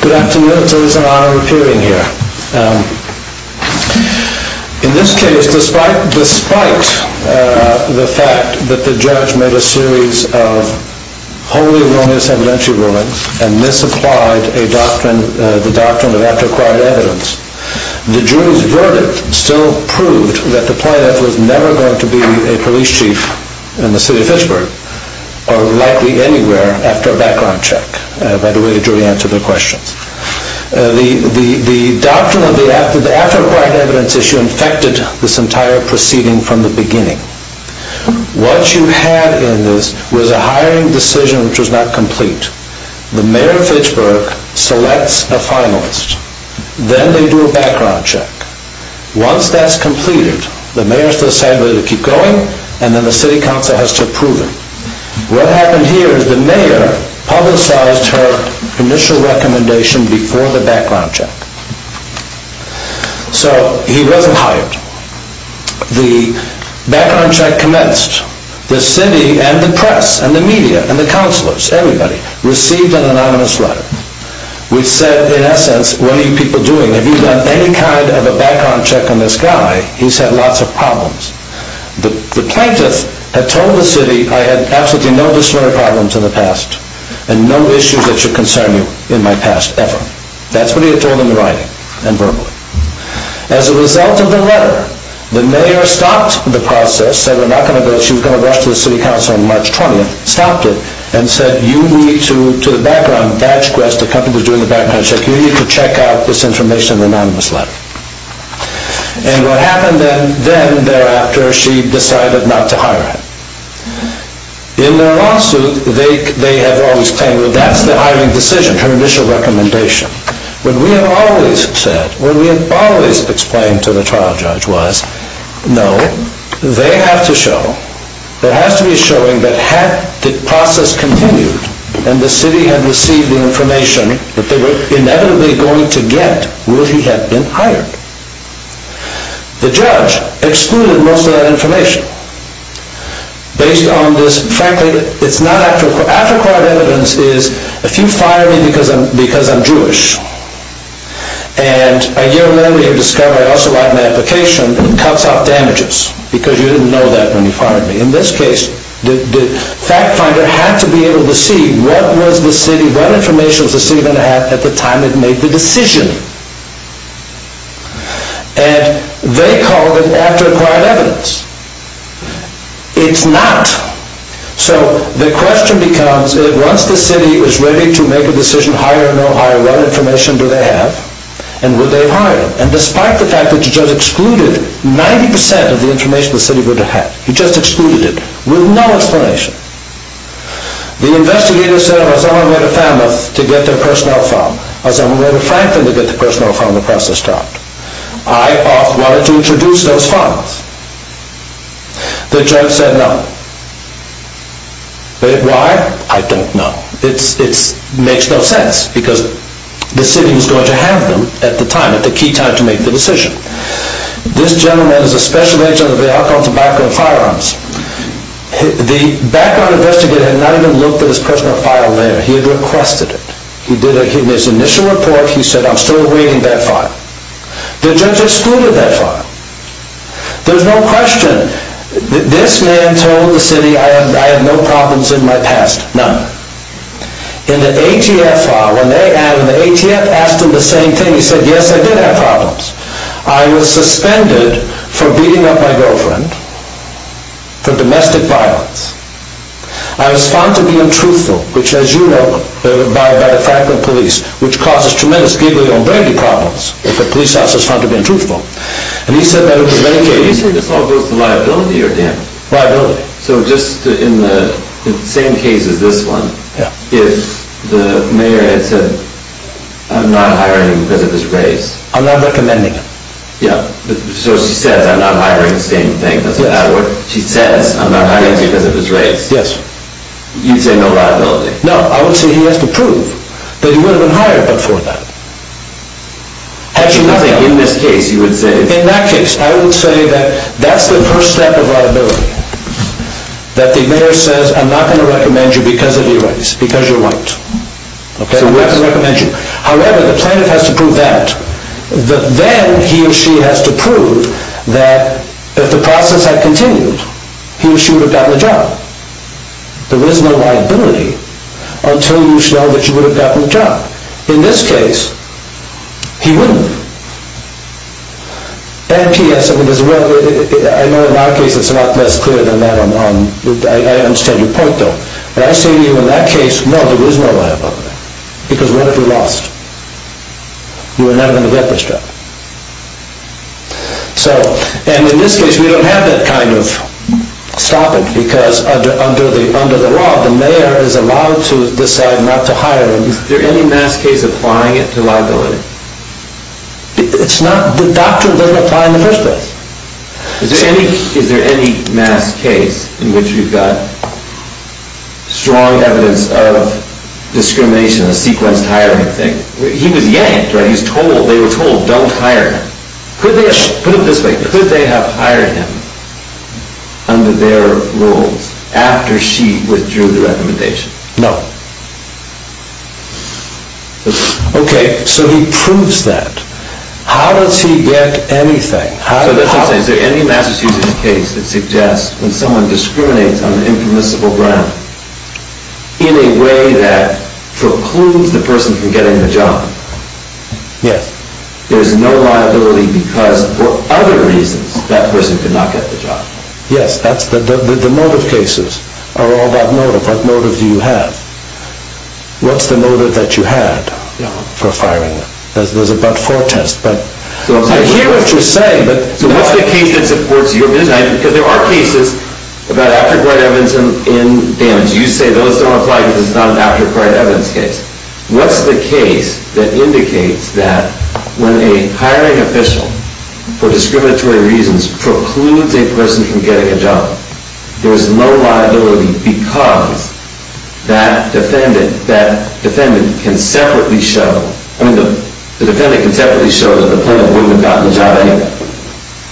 Good afternoon, it is an honor to appear in here. In this case, despite the fact that the judge made a series of wholly erroneous evidentiary rulings and misapplied the doctrine of after-acquired evidence, the jury's verdict still proved that the plaintiff was never going to be a police chief in the city of Fitchburg or likely anywhere after a background check by the way the jury answered their questions. The doctrine of the after-acquired evidence issue infected this entire proceeding from the beginning. What you had in this was a hiring decision which was not complete. The mayor of Fitchburg selects a finalist, then they do a background check. Once that's completed, the mayor has to decide whether to keep going and then the city council has to approve it. What happened here is the mayor publicized her initial recommendation before the background check. So he wasn't hired. The background check commenced. The city and the press and the media and the councillors, everybody, received an anonymous letter which said, in essence, what are you people doing? Have you done any kind of a background check on this guy? He's had lots of problems. The plaintiff had told the city, I had absolutely no disloyal problems in the past and no issues that should concern you in my past ever. That's what he had told them in writing and verbally. As a result of the letter, the mayor stopped the process, said she was going to rush to the city council on March 20th, stopped it, and said you need to, to the background, badge quest, the company was doing the background check, you need to check out this information in the anonymous letter. And what happened then thereafter, she decided not to hire him. In their lawsuit, they have always claimed that's the hiring decision, her initial recommendation. What we have always said, what we have always explained to the trial judge was, no, they have to show, there has to be a showing that had the process continued and the city had received the information that they were inevitably going to get were he had been hired. The judge excluded most of that information. Based on this, frankly, it's not actual, after court evidence is, if you fire me because I'm, because I'm Jewish, and a year later you discover I also write my application, it cuts off damages, because you didn't know that when you fired me. In this case, the fact finder had to be able to see what was the city, what information was the city going to have at the time it made the decision. And they called it after acquired evidence. It's not. So the question becomes, once the city was ready to make a decision, hire or no hire, what information do they have, and would they have hired him? And despite the fact that the judge excluded 90% of the information the city would have had, he just excluded it, with no explanation. The investigator said, well, someone made a FAMF to get their personnel found. Someone made a Franklin to get the personnel found, the process stopped. I offered to introduce those funds. The judge said no. Why? I don't know. It makes no sense, because the city was going to have them at the time, at the key time to make the decision. This gentleman is a special agent of the Vailco Tobacco and Firearms. The background investigator had not even looked at his personnel file there. He had requested it. In his initial report, he said, I'm still awaiting that file. The judge excluded that file. There's no question. This man told the city, I have no problems in my past. None. In the ATF file, when they asked him the same thing, he said, yes, I did have problems. I was suspended for beating up my girlfriend, for domestic violence. I was found to be untruthful, which, as you know, by the Franklin Police, which causes tremendous gigolombranity problems if a police officer is found to be untruthful. And he said that in many cases. You say this all goes to liability or damage? Liability. So just in the same case as this one, if the mayor had said, I'm not hiring because of his race. I'm not recommending it. Yeah. So she says, I'm not hiring because of his race. Yes. You'd say no liability. No, I would say he has to prove that he would have been hired before that. In this case, you would say. In that case, I would say that that's the first step of liability. That the mayor says, I'm not going to recommend you because of your race, because you're white. Okay. I'm not going to recommend you. However, the plaintiff has to prove that. Then he or she has to prove that if the process had continued, he or she would have gotten a job. There is no liability until you show that you would have gotten a job. In this case, he wouldn't. And P.S., I know in our case it's a lot less clear than that. I understand your point, though. But I say to you in that case, no, there is no liability. Because what if we lost? We were never going to get this job. And in this case, we don't have that kind of stoppage because under the law, the mayor is allowed to decide not to hire him. Is there any mass case applying it to liability? It's not. The doctrine doesn't apply in the first place. Is there any mass case in which you've got strong evidence of discrimination, a sequenced hiring thing? He was yanked, right? They were told don't hire him. Put it this way. Could they have hired him under their rules after she withdrew the recommendation? No. Okay. So he proves that. How does he get anything? So that's what I'm saying. Is there any Massachusetts case that suggests when someone discriminates on an impermissible ground in a way that precludes the person from getting the job? Yes. There's no liability because for other reasons that person could not get the job? Yes. The motive cases are all about motive. What motive do you have? What's the motive that you had for firing him? There's a but-for test. I hear what you're saying. So what's the case that supports your view? Because there are cases about aftercourt evidence and damage. You say those don't apply because it's not an aftercourt evidence case. What's the case that indicates that when a hiring official for discriminatory reasons precludes a person from getting a job, there's no liability because that defendant can separately show that the plaintiff wouldn't have gotten the job anyway?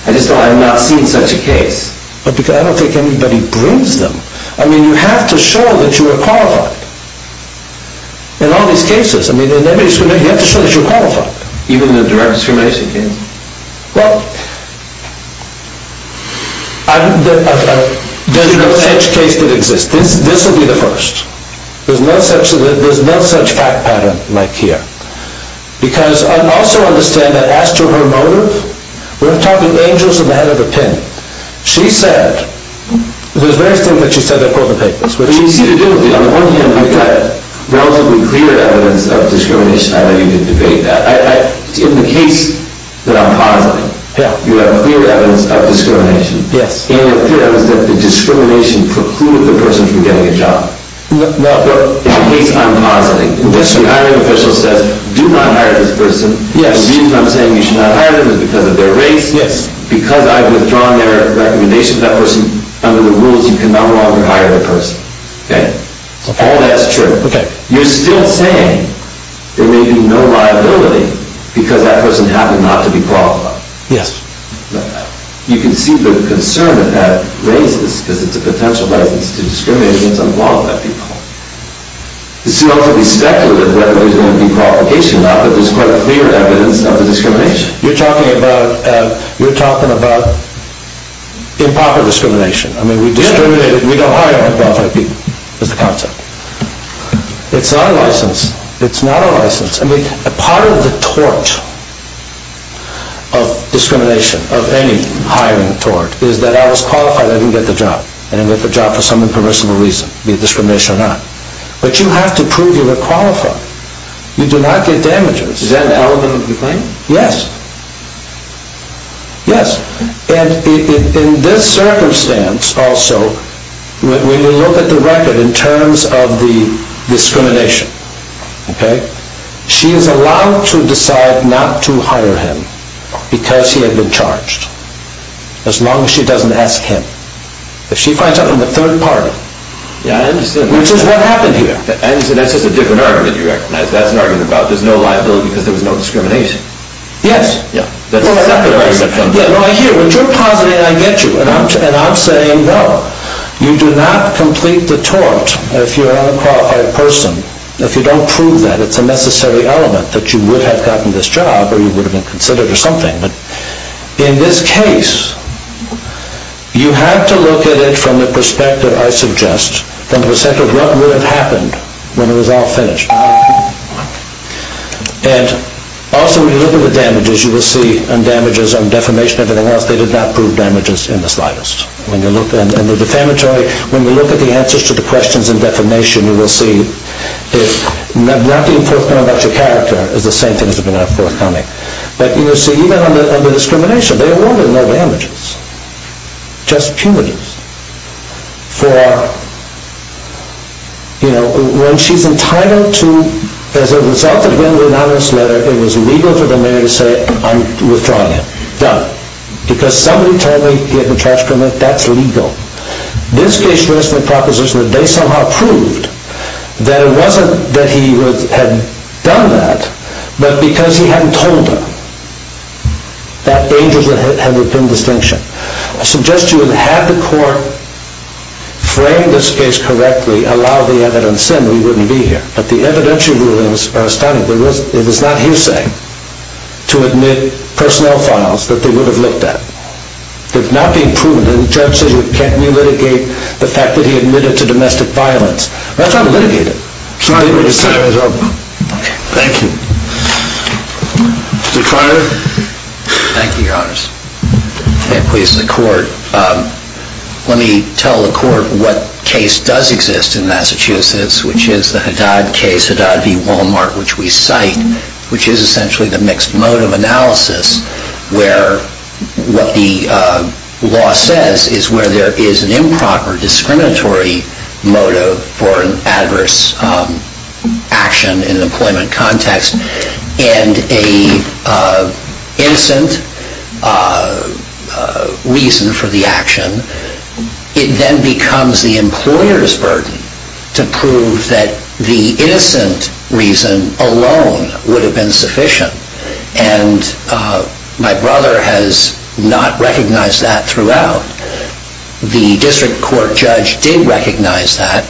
I just know I have not seen such a case. I don't think anybody brings them. I mean, you have to show that you are qualified in all these cases. You have to show that you're qualified. Even the direct discrimination case? Well, there's no such case that exists. This will be the first. There's no such fact pattern like here. Because I also understand that as to her motive, we're talking angels in the head of a pin. She said, there's various things that she said that quote the papers. On the one hand, we've got relatively clear evidence of discrimination. I don't need to debate that. In the case that I'm positing, you have clear evidence of discrimination. Yes. And the clear evidence that the discrimination precluded the person from getting a job. No. In the case I'm positing, the hiring official says, do not hire this person. Yes. The reason I'm saying you should not hire them is because of their race. Yes. Because I've withdrawn their recommendation to that person, under the rules you can no longer hire the person. Okay? All that's true. Okay. You're still saying there may be no liability because that person happened not to be qualified. Yes. You can see the concern that that raises, because it's a potential basis to discriminate against unqualified people. It's still to be speculated whether there's going to be qualification or not, but there's quite clear evidence of the discrimination. You're talking about improper discrimination. I mean, we discriminate, we don't hire unqualified people, is the concept. It's not a license. It's not a license. I mean, part of the tort of discrimination, of any hiring tort, is that I was qualified, I didn't get the job. I didn't get the job for some impermissible reason, be it discrimination or not. But you have to prove you were qualified. You do not get damages. Is that an element of your claim? Yes. Yes. And in this circumstance also, when you look at the record in terms of the discrimination, okay, she is allowed to decide not to hire him because he had been charged, as long as she doesn't ask him. If she finds out from the third party, which is what happened here. I understand. That's just a different argument you recognize. That's an argument about there's no liability because there was no discrimination. Yes. I hear you. When you're positive, I get you. And I'm saying, no, you do not complete the tort if you're an unqualified person. If you don't prove that, it's a necessary element that you would have gotten this job or you would have been considered or something. In this case, you have to look at it from the perspective, I suggest, from the perspective of what would have happened when it was all finished. And also, when you look at the damages, you will see damages on defamation and everything else. They did not prove damages in the slightest. When you look at the defamatory, when you look at the answers to the questions in defamation, you will see that not being forthcoming about your character is the same thing as being not forthcoming. But you see, even on the discrimination, there were no damages. Just punitive. For, you know, when she's entitled to, as a result of getting the anonymous letter, it was legal for the mayor to say, I'm withdrawing it. Done. Because somebody told me, he had been charged criminally, that's legal. This case shows in the proposition that they somehow proved that it wasn't that he had done that, but because he hadn't told her. That danger had been distinction. I suggest you would have had the court frame this case correctly, allow the evidence in, we wouldn't be here. But the evidentiary rulings are astounding. It was not his saying to admit personnel files that they would have looked at. It's not being proven. And the judge says you can't re-litigate the fact that he admitted to domestic violence. That's not litigated. Sorry, but your time is up. Thank you. Mr. Carter. Thank you, your honors. Please, the court. Let me tell the court what case does exist in Massachusetts, which is the Haddad case, Haddad v. Walmart, which we cite, which is essentially the mixed motive analysis, where what the law says is where there is an improper discriminatory motive for an adverse action in an employment context, and a innocent reason for the action, it then becomes the employer's burden to prove that the innocent reason alone would have been sufficient. And my brother has not recognized that throughout. The district court judge did recognize that.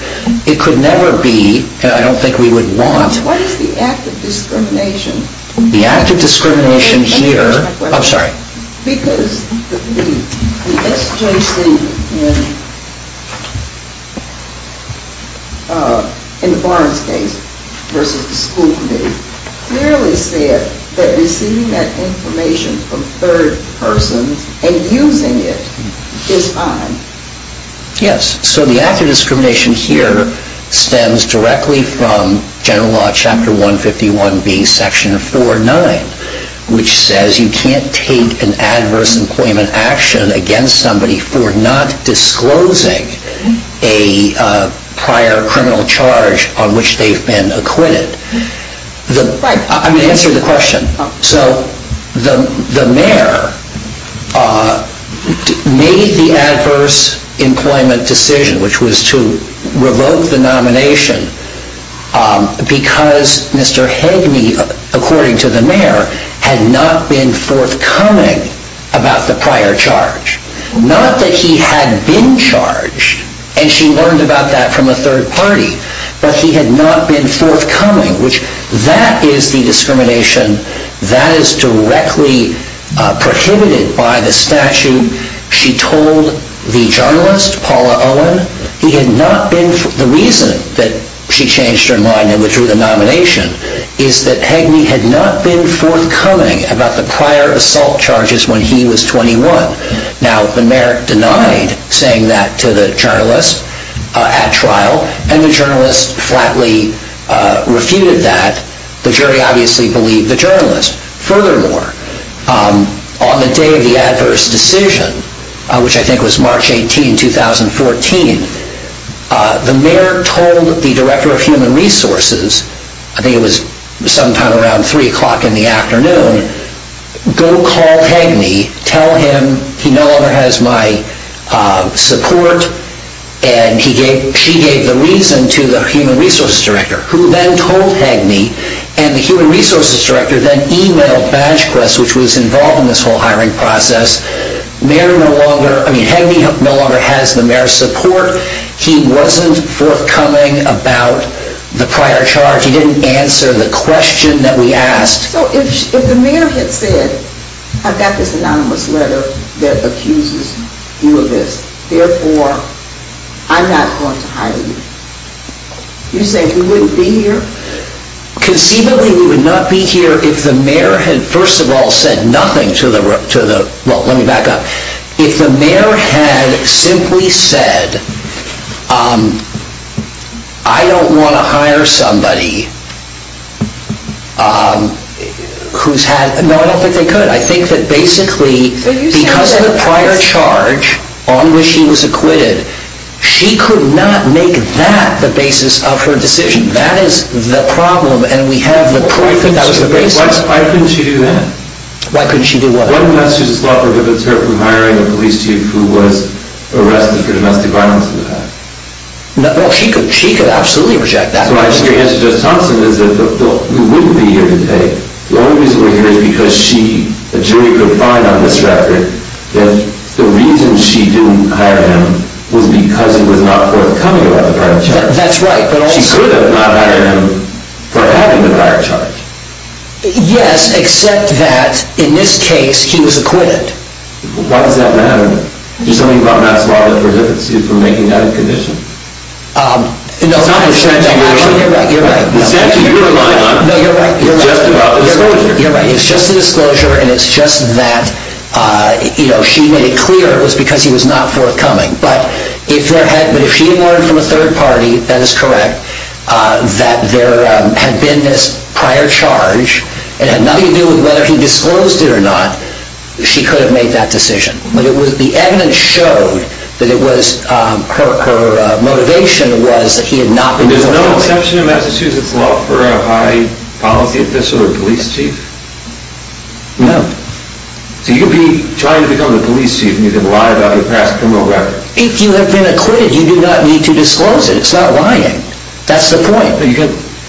It could never be, and I don't think we would want. What is the act of discrimination? The act of discrimination here. Let me finish my question. I'm sorry. Because the SJC, in the Barnes case versus the school committee, clearly said that receiving that information from a third person and using it is fine. Yes. So the act of discrimination here stems directly from general law chapter 151b, section 4.9, which says you can't take an adverse employment action against somebody for not disclosing a prior criminal charge on which they've been acquitted. Right. I'm going to answer the question. So the mayor made the adverse employment decision, which was to revoke the nomination because Mr. Hageme, according to the mayor, had not been forthcoming about the prior charge. Not that he had been charged, and she learned about that from a third party, but he had not been forthcoming, which that is the discrimination that is directly prohibited by the statute. She told the journalist, Paula Owen, he had not been. The reason that she changed her mind and withdrew the nomination is that Hageme had not been forthcoming about the prior assault charges when he was 21. Now, the mayor denied saying that to the journalist at trial, and the journalist flatly refuted that. The jury obviously believed the journalist. Furthermore, on the day of the adverse decision, which I think was March 18, 2014, the mayor told the director of human resources, I think it was sometime around 3 o'clock in the afternoon, go call Hageme, tell him he no longer has my support, and she gave the reason to the human resources director, who then told Hageme, and the human resources director then emailed BadgeQuest, which was involved in this whole hiring process. Hageme no longer has the mayor's support. He wasn't forthcoming about the prior charge. He didn't answer the question that we asked. So if the mayor had said, I've got this anonymous letter that accuses you of this, therefore, I'm not going to hire you, you say we wouldn't be here? Conceivably, we would not be here if the mayor had, first of all, said nothing to the, well, let me back up, if the mayor had simply said, I don't want to hire somebody who's had, no, I don't think they could. I think that basically, because of the prior charge on which she was acquitted, she could not make that the basis of her decision. That is the problem, and we have the proof that that was the basis. Why couldn't she do that? Why couldn't she do what? One message of thought prohibits her from hiring a police chief who was arrested for domestic violence in the past. Well, she could absolutely reject that. So my answer to Judge Thompson is that we wouldn't be here today. The only reason we're here is because she, a jury, could find on this record that the reason she didn't hire him was because he was not forthcoming about the prior charge. That's right. She could have not hired him for having the prior charge. Yes, except that, in this case, he was acquitted. Why does that matter? There's something about Matt's law that prohibits you from making that a condition. No, you're right. It's actually your line on it. No, you're right. It's just about the disclosure. You're right. It's just the disclosure, and it's just that she made it clear it was because he was not forthcoming. But if she had learned from a third party, that is correct, that there had been this prior charge and had nothing to do with whether he disclosed it or not, she could have made that decision. But the evidence showed that her motivation was that he had not been disclosed. There's no exception in Massachusetts law for a high policy official or police chief? No. So you could be trying to become the police chief, and you could lie about your past criminal record. If you have been acquitted, you do not need to disclose it. It's not lying. That's the point.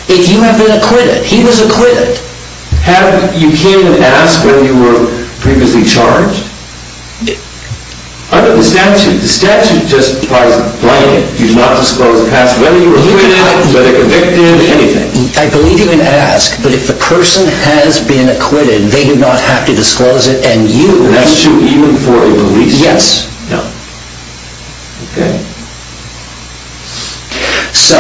If you have been acquitted, he was acquitted. You can't even ask whether you were previously charged? Under the statute, the statute justifies blinding. You do not disclose the past, whether you were acquitted, whether convicted, anything. I believe you can ask, but if the person has been acquitted, they do not have to disclose it, and you. And that's true even for a police chief? Yes. No. Okay. So,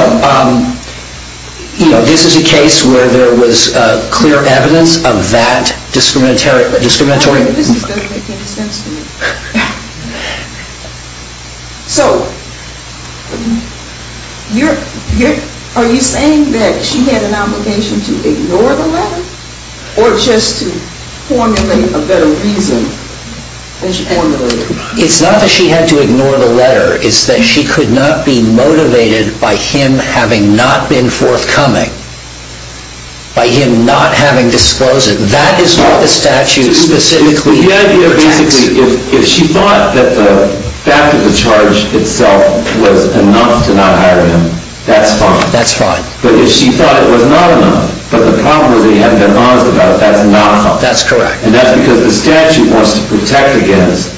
you know, this is a case where there was clear evidence of that discriminatory. This doesn't make any sense to me. So, are you saying that she had an obligation to ignore the letter, or just to formulate a better reason? It's not that she had to ignore the letter. It's that she could not be motivated by him having not been forthcoming, by him not having disclosed it. That is what the statute specifically protects. Basically, if she thought that the fact of the charge itself was enough to not hire him, that's fine. That's fine. But if she thought it was not enough, but the problem was that he hadn't been honest about it, that's not fine. That's correct. And that's because the statute wants to protect against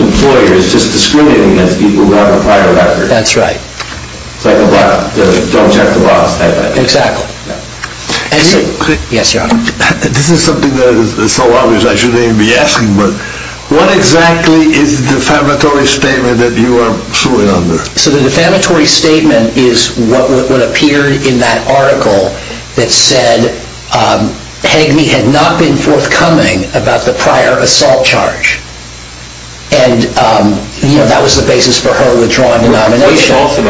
employers just discriminating against people who have a prior record. That's right. It's like the don't check the box type of thing. Exactly. Yes, Your Honor. This is something that is so obvious I shouldn't even be asking, but what exactly is the defamatory statement that you are suing under? So the defamatory statement is what would appear in that article that said Hageme had not been forthcoming about the prior assault charge. And that was the basis for her withdrawing the nomination. What's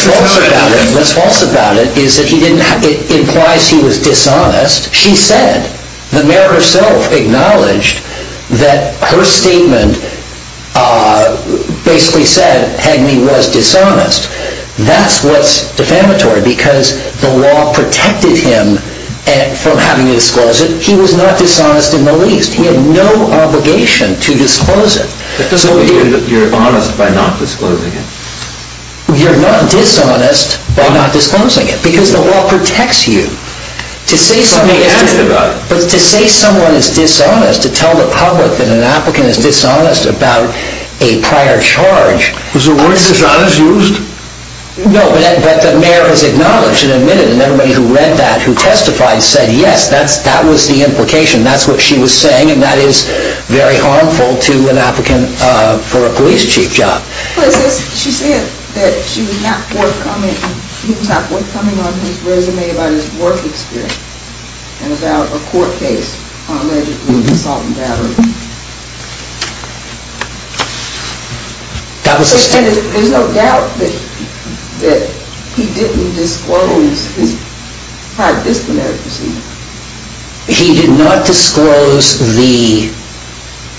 false about that? What's false about it is that it implies he was dishonest. The mayor herself acknowledged that her statement basically said Hageme was dishonest. That's what's defamatory because the law protected him from having to disclose it. He was not dishonest in the least. He had no obligation to disclose it. That doesn't mean you're honest by not disclosing it. You're not dishonest by not disclosing it because the law protects you. But to say someone is dishonest, to tell the public that an applicant is dishonest about a prior charge... Is the word dishonest used? No, but the mayor has acknowledged and admitted, and everybody who read that who testified said yes, that was the implication. That's what she was saying, and that is very harmful to an applicant for a police chief job. She said that he was not forthcoming on his resume about his work experience and about a court case allegedly of assault and battery. There's no doubt that he didn't disclose his prior disciplinary proceedings. He did not disclose the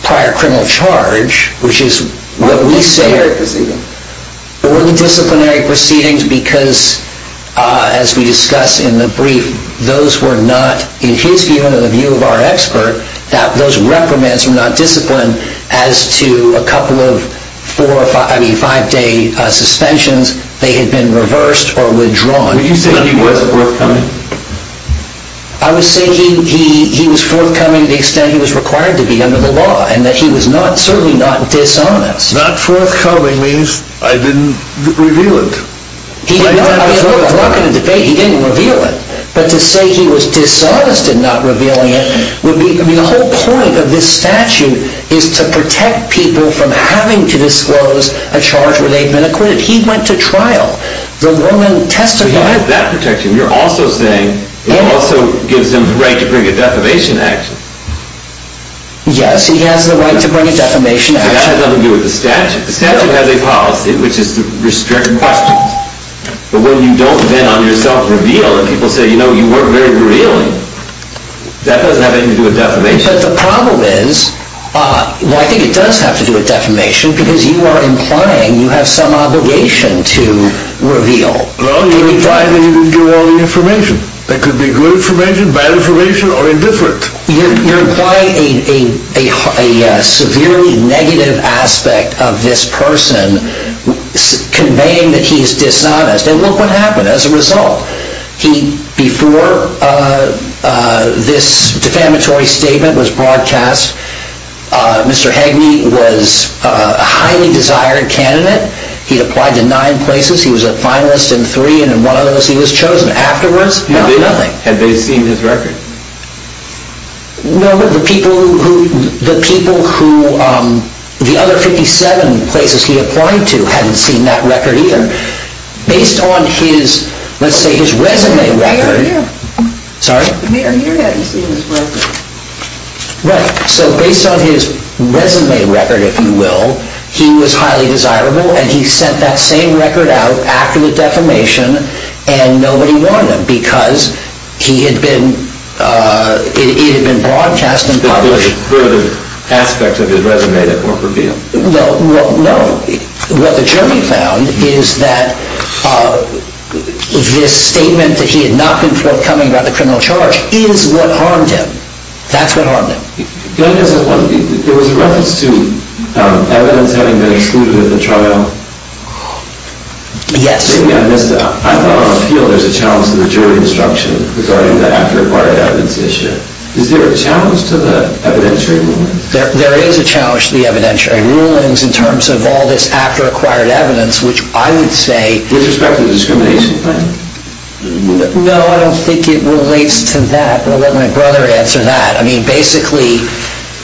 prior criminal charge, which is what we say... Or the disciplinary proceedings. Or the disciplinary proceedings because, as we discussed in the brief, those were not, in his view and in the view of our expert, those reprimands were not disciplined as to a couple of five-day suspensions. They had been reversed or withdrawn. Were you saying he wasn't forthcoming? I was saying he was forthcoming to the extent he was required to be under the law and that he was certainly not dishonest. Not forthcoming means I didn't reveal it. I'm not going to debate, he didn't reveal it. But to say he was dishonest in not revealing it would be... The whole point of this statute is to protect people from having to disclose a charge where they've been acquitted. If he went to trial, the woman testified... He has that protection. You're also saying it also gives him the right to bring a defamation action. Yes, he has the right to bring a defamation action. That has nothing to do with the statute. The statute has a policy, which is to restrict questions. But when you don't then on yourself reveal and people say, you know, you weren't very revealing, that doesn't have anything to do with defamation. But the problem is, I think it does have to do with defamation because you are implying you have some obligation to reveal. Well, you're implying that you didn't give all the information. That could be good information, bad information, or indifferent. You're implying a severely negative aspect of this person, conveying that he's dishonest. And look what happened as a result. Before this defamatory statement was broadcast, Mr. Hageme was a highly desired candidate. He'd applied to nine places. He was a finalist in three, and in one of those he was chosen. Afterwards, nothing. Had they seen his record? No, the people who... The other 57 places he applied to hadn't seen that record either. Based on his, let's say, his resume record... Peter here. Sorry? Peter here hadn't seen his resume. Right. So based on his resume record, if you will, he was highly desirable, and he sent that same record out after the defamation, and nobody wanted him because he had been... It had been broadcast and published. There was a further aspect of his resume that weren't revealed. Well, no. What the jury found is that this statement that he had not been forthcoming about the criminal charge is what harmed him. That's what harmed him. There was a reference to evidence having been excluded at the trial. Yes. Maybe I missed it. I thought on the field there's a challenge to the jury instruction regarding the acquired evidence issue. Is there a challenge to the evidentiary rule? There is a challenge to the evidentiary rulings in terms of all this after-acquired evidence, which I would say... With respect to the discrimination claim? No, I don't think it relates to that. I'll let my brother answer that. I mean, basically,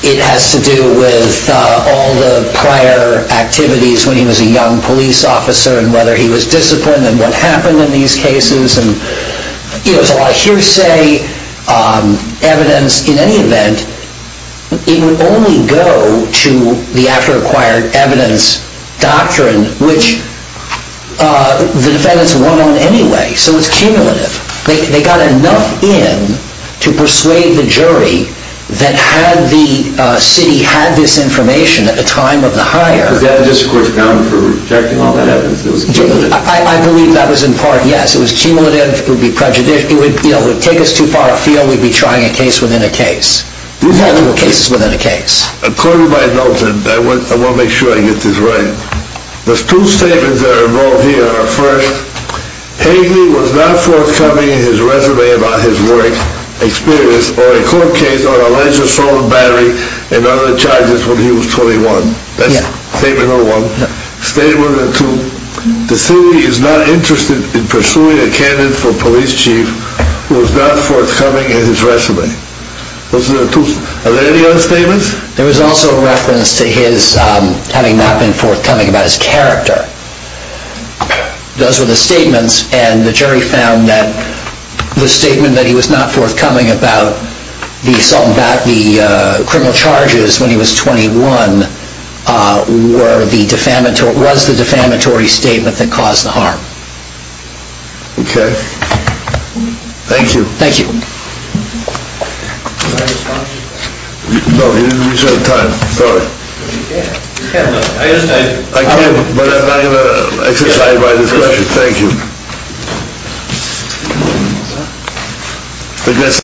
it has to do with all the prior activities when he was a young police officer and whether he was disciplined and what happened in these cases. There's a lot of hearsay evidence. In any event, it would only go to the after-acquired evidence doctrine, which the defendants won't own anyway. So it's cumulative. They got enough in to persuade the jury that had the city had this information at the time of the hire... Was that a discourse bound for rejecting all that evidence? I believe that was in part, yes. It was cumulative. It would take us too far afield. We'd be trying a case within a case. You can't rule cases within a case. According to my notes, and I want to make sure I get this right, there's two statements that are involved here. First, Hageley was not forthcoming in his resume about his work experience or a court case on alleged solid battery and other charges when he was 21. That's statement number one. Statement number two, the city is not interested in pursuing a candidate for police chief who is not forthcoming in his resume. Those are the two. Are there any other statements? There was also a reference to his having not been forthcoming about his character. Those were the statements. And the jury found that the statement that he was not forthcoming about the assault and battery criminal charges when he was 21 was the defamatory statement that caused the harm. Okay. Thank you. Thank you. No, you didn't reserve time. Sorry. I can, but I'm not going to exercise my discretion. Thank you.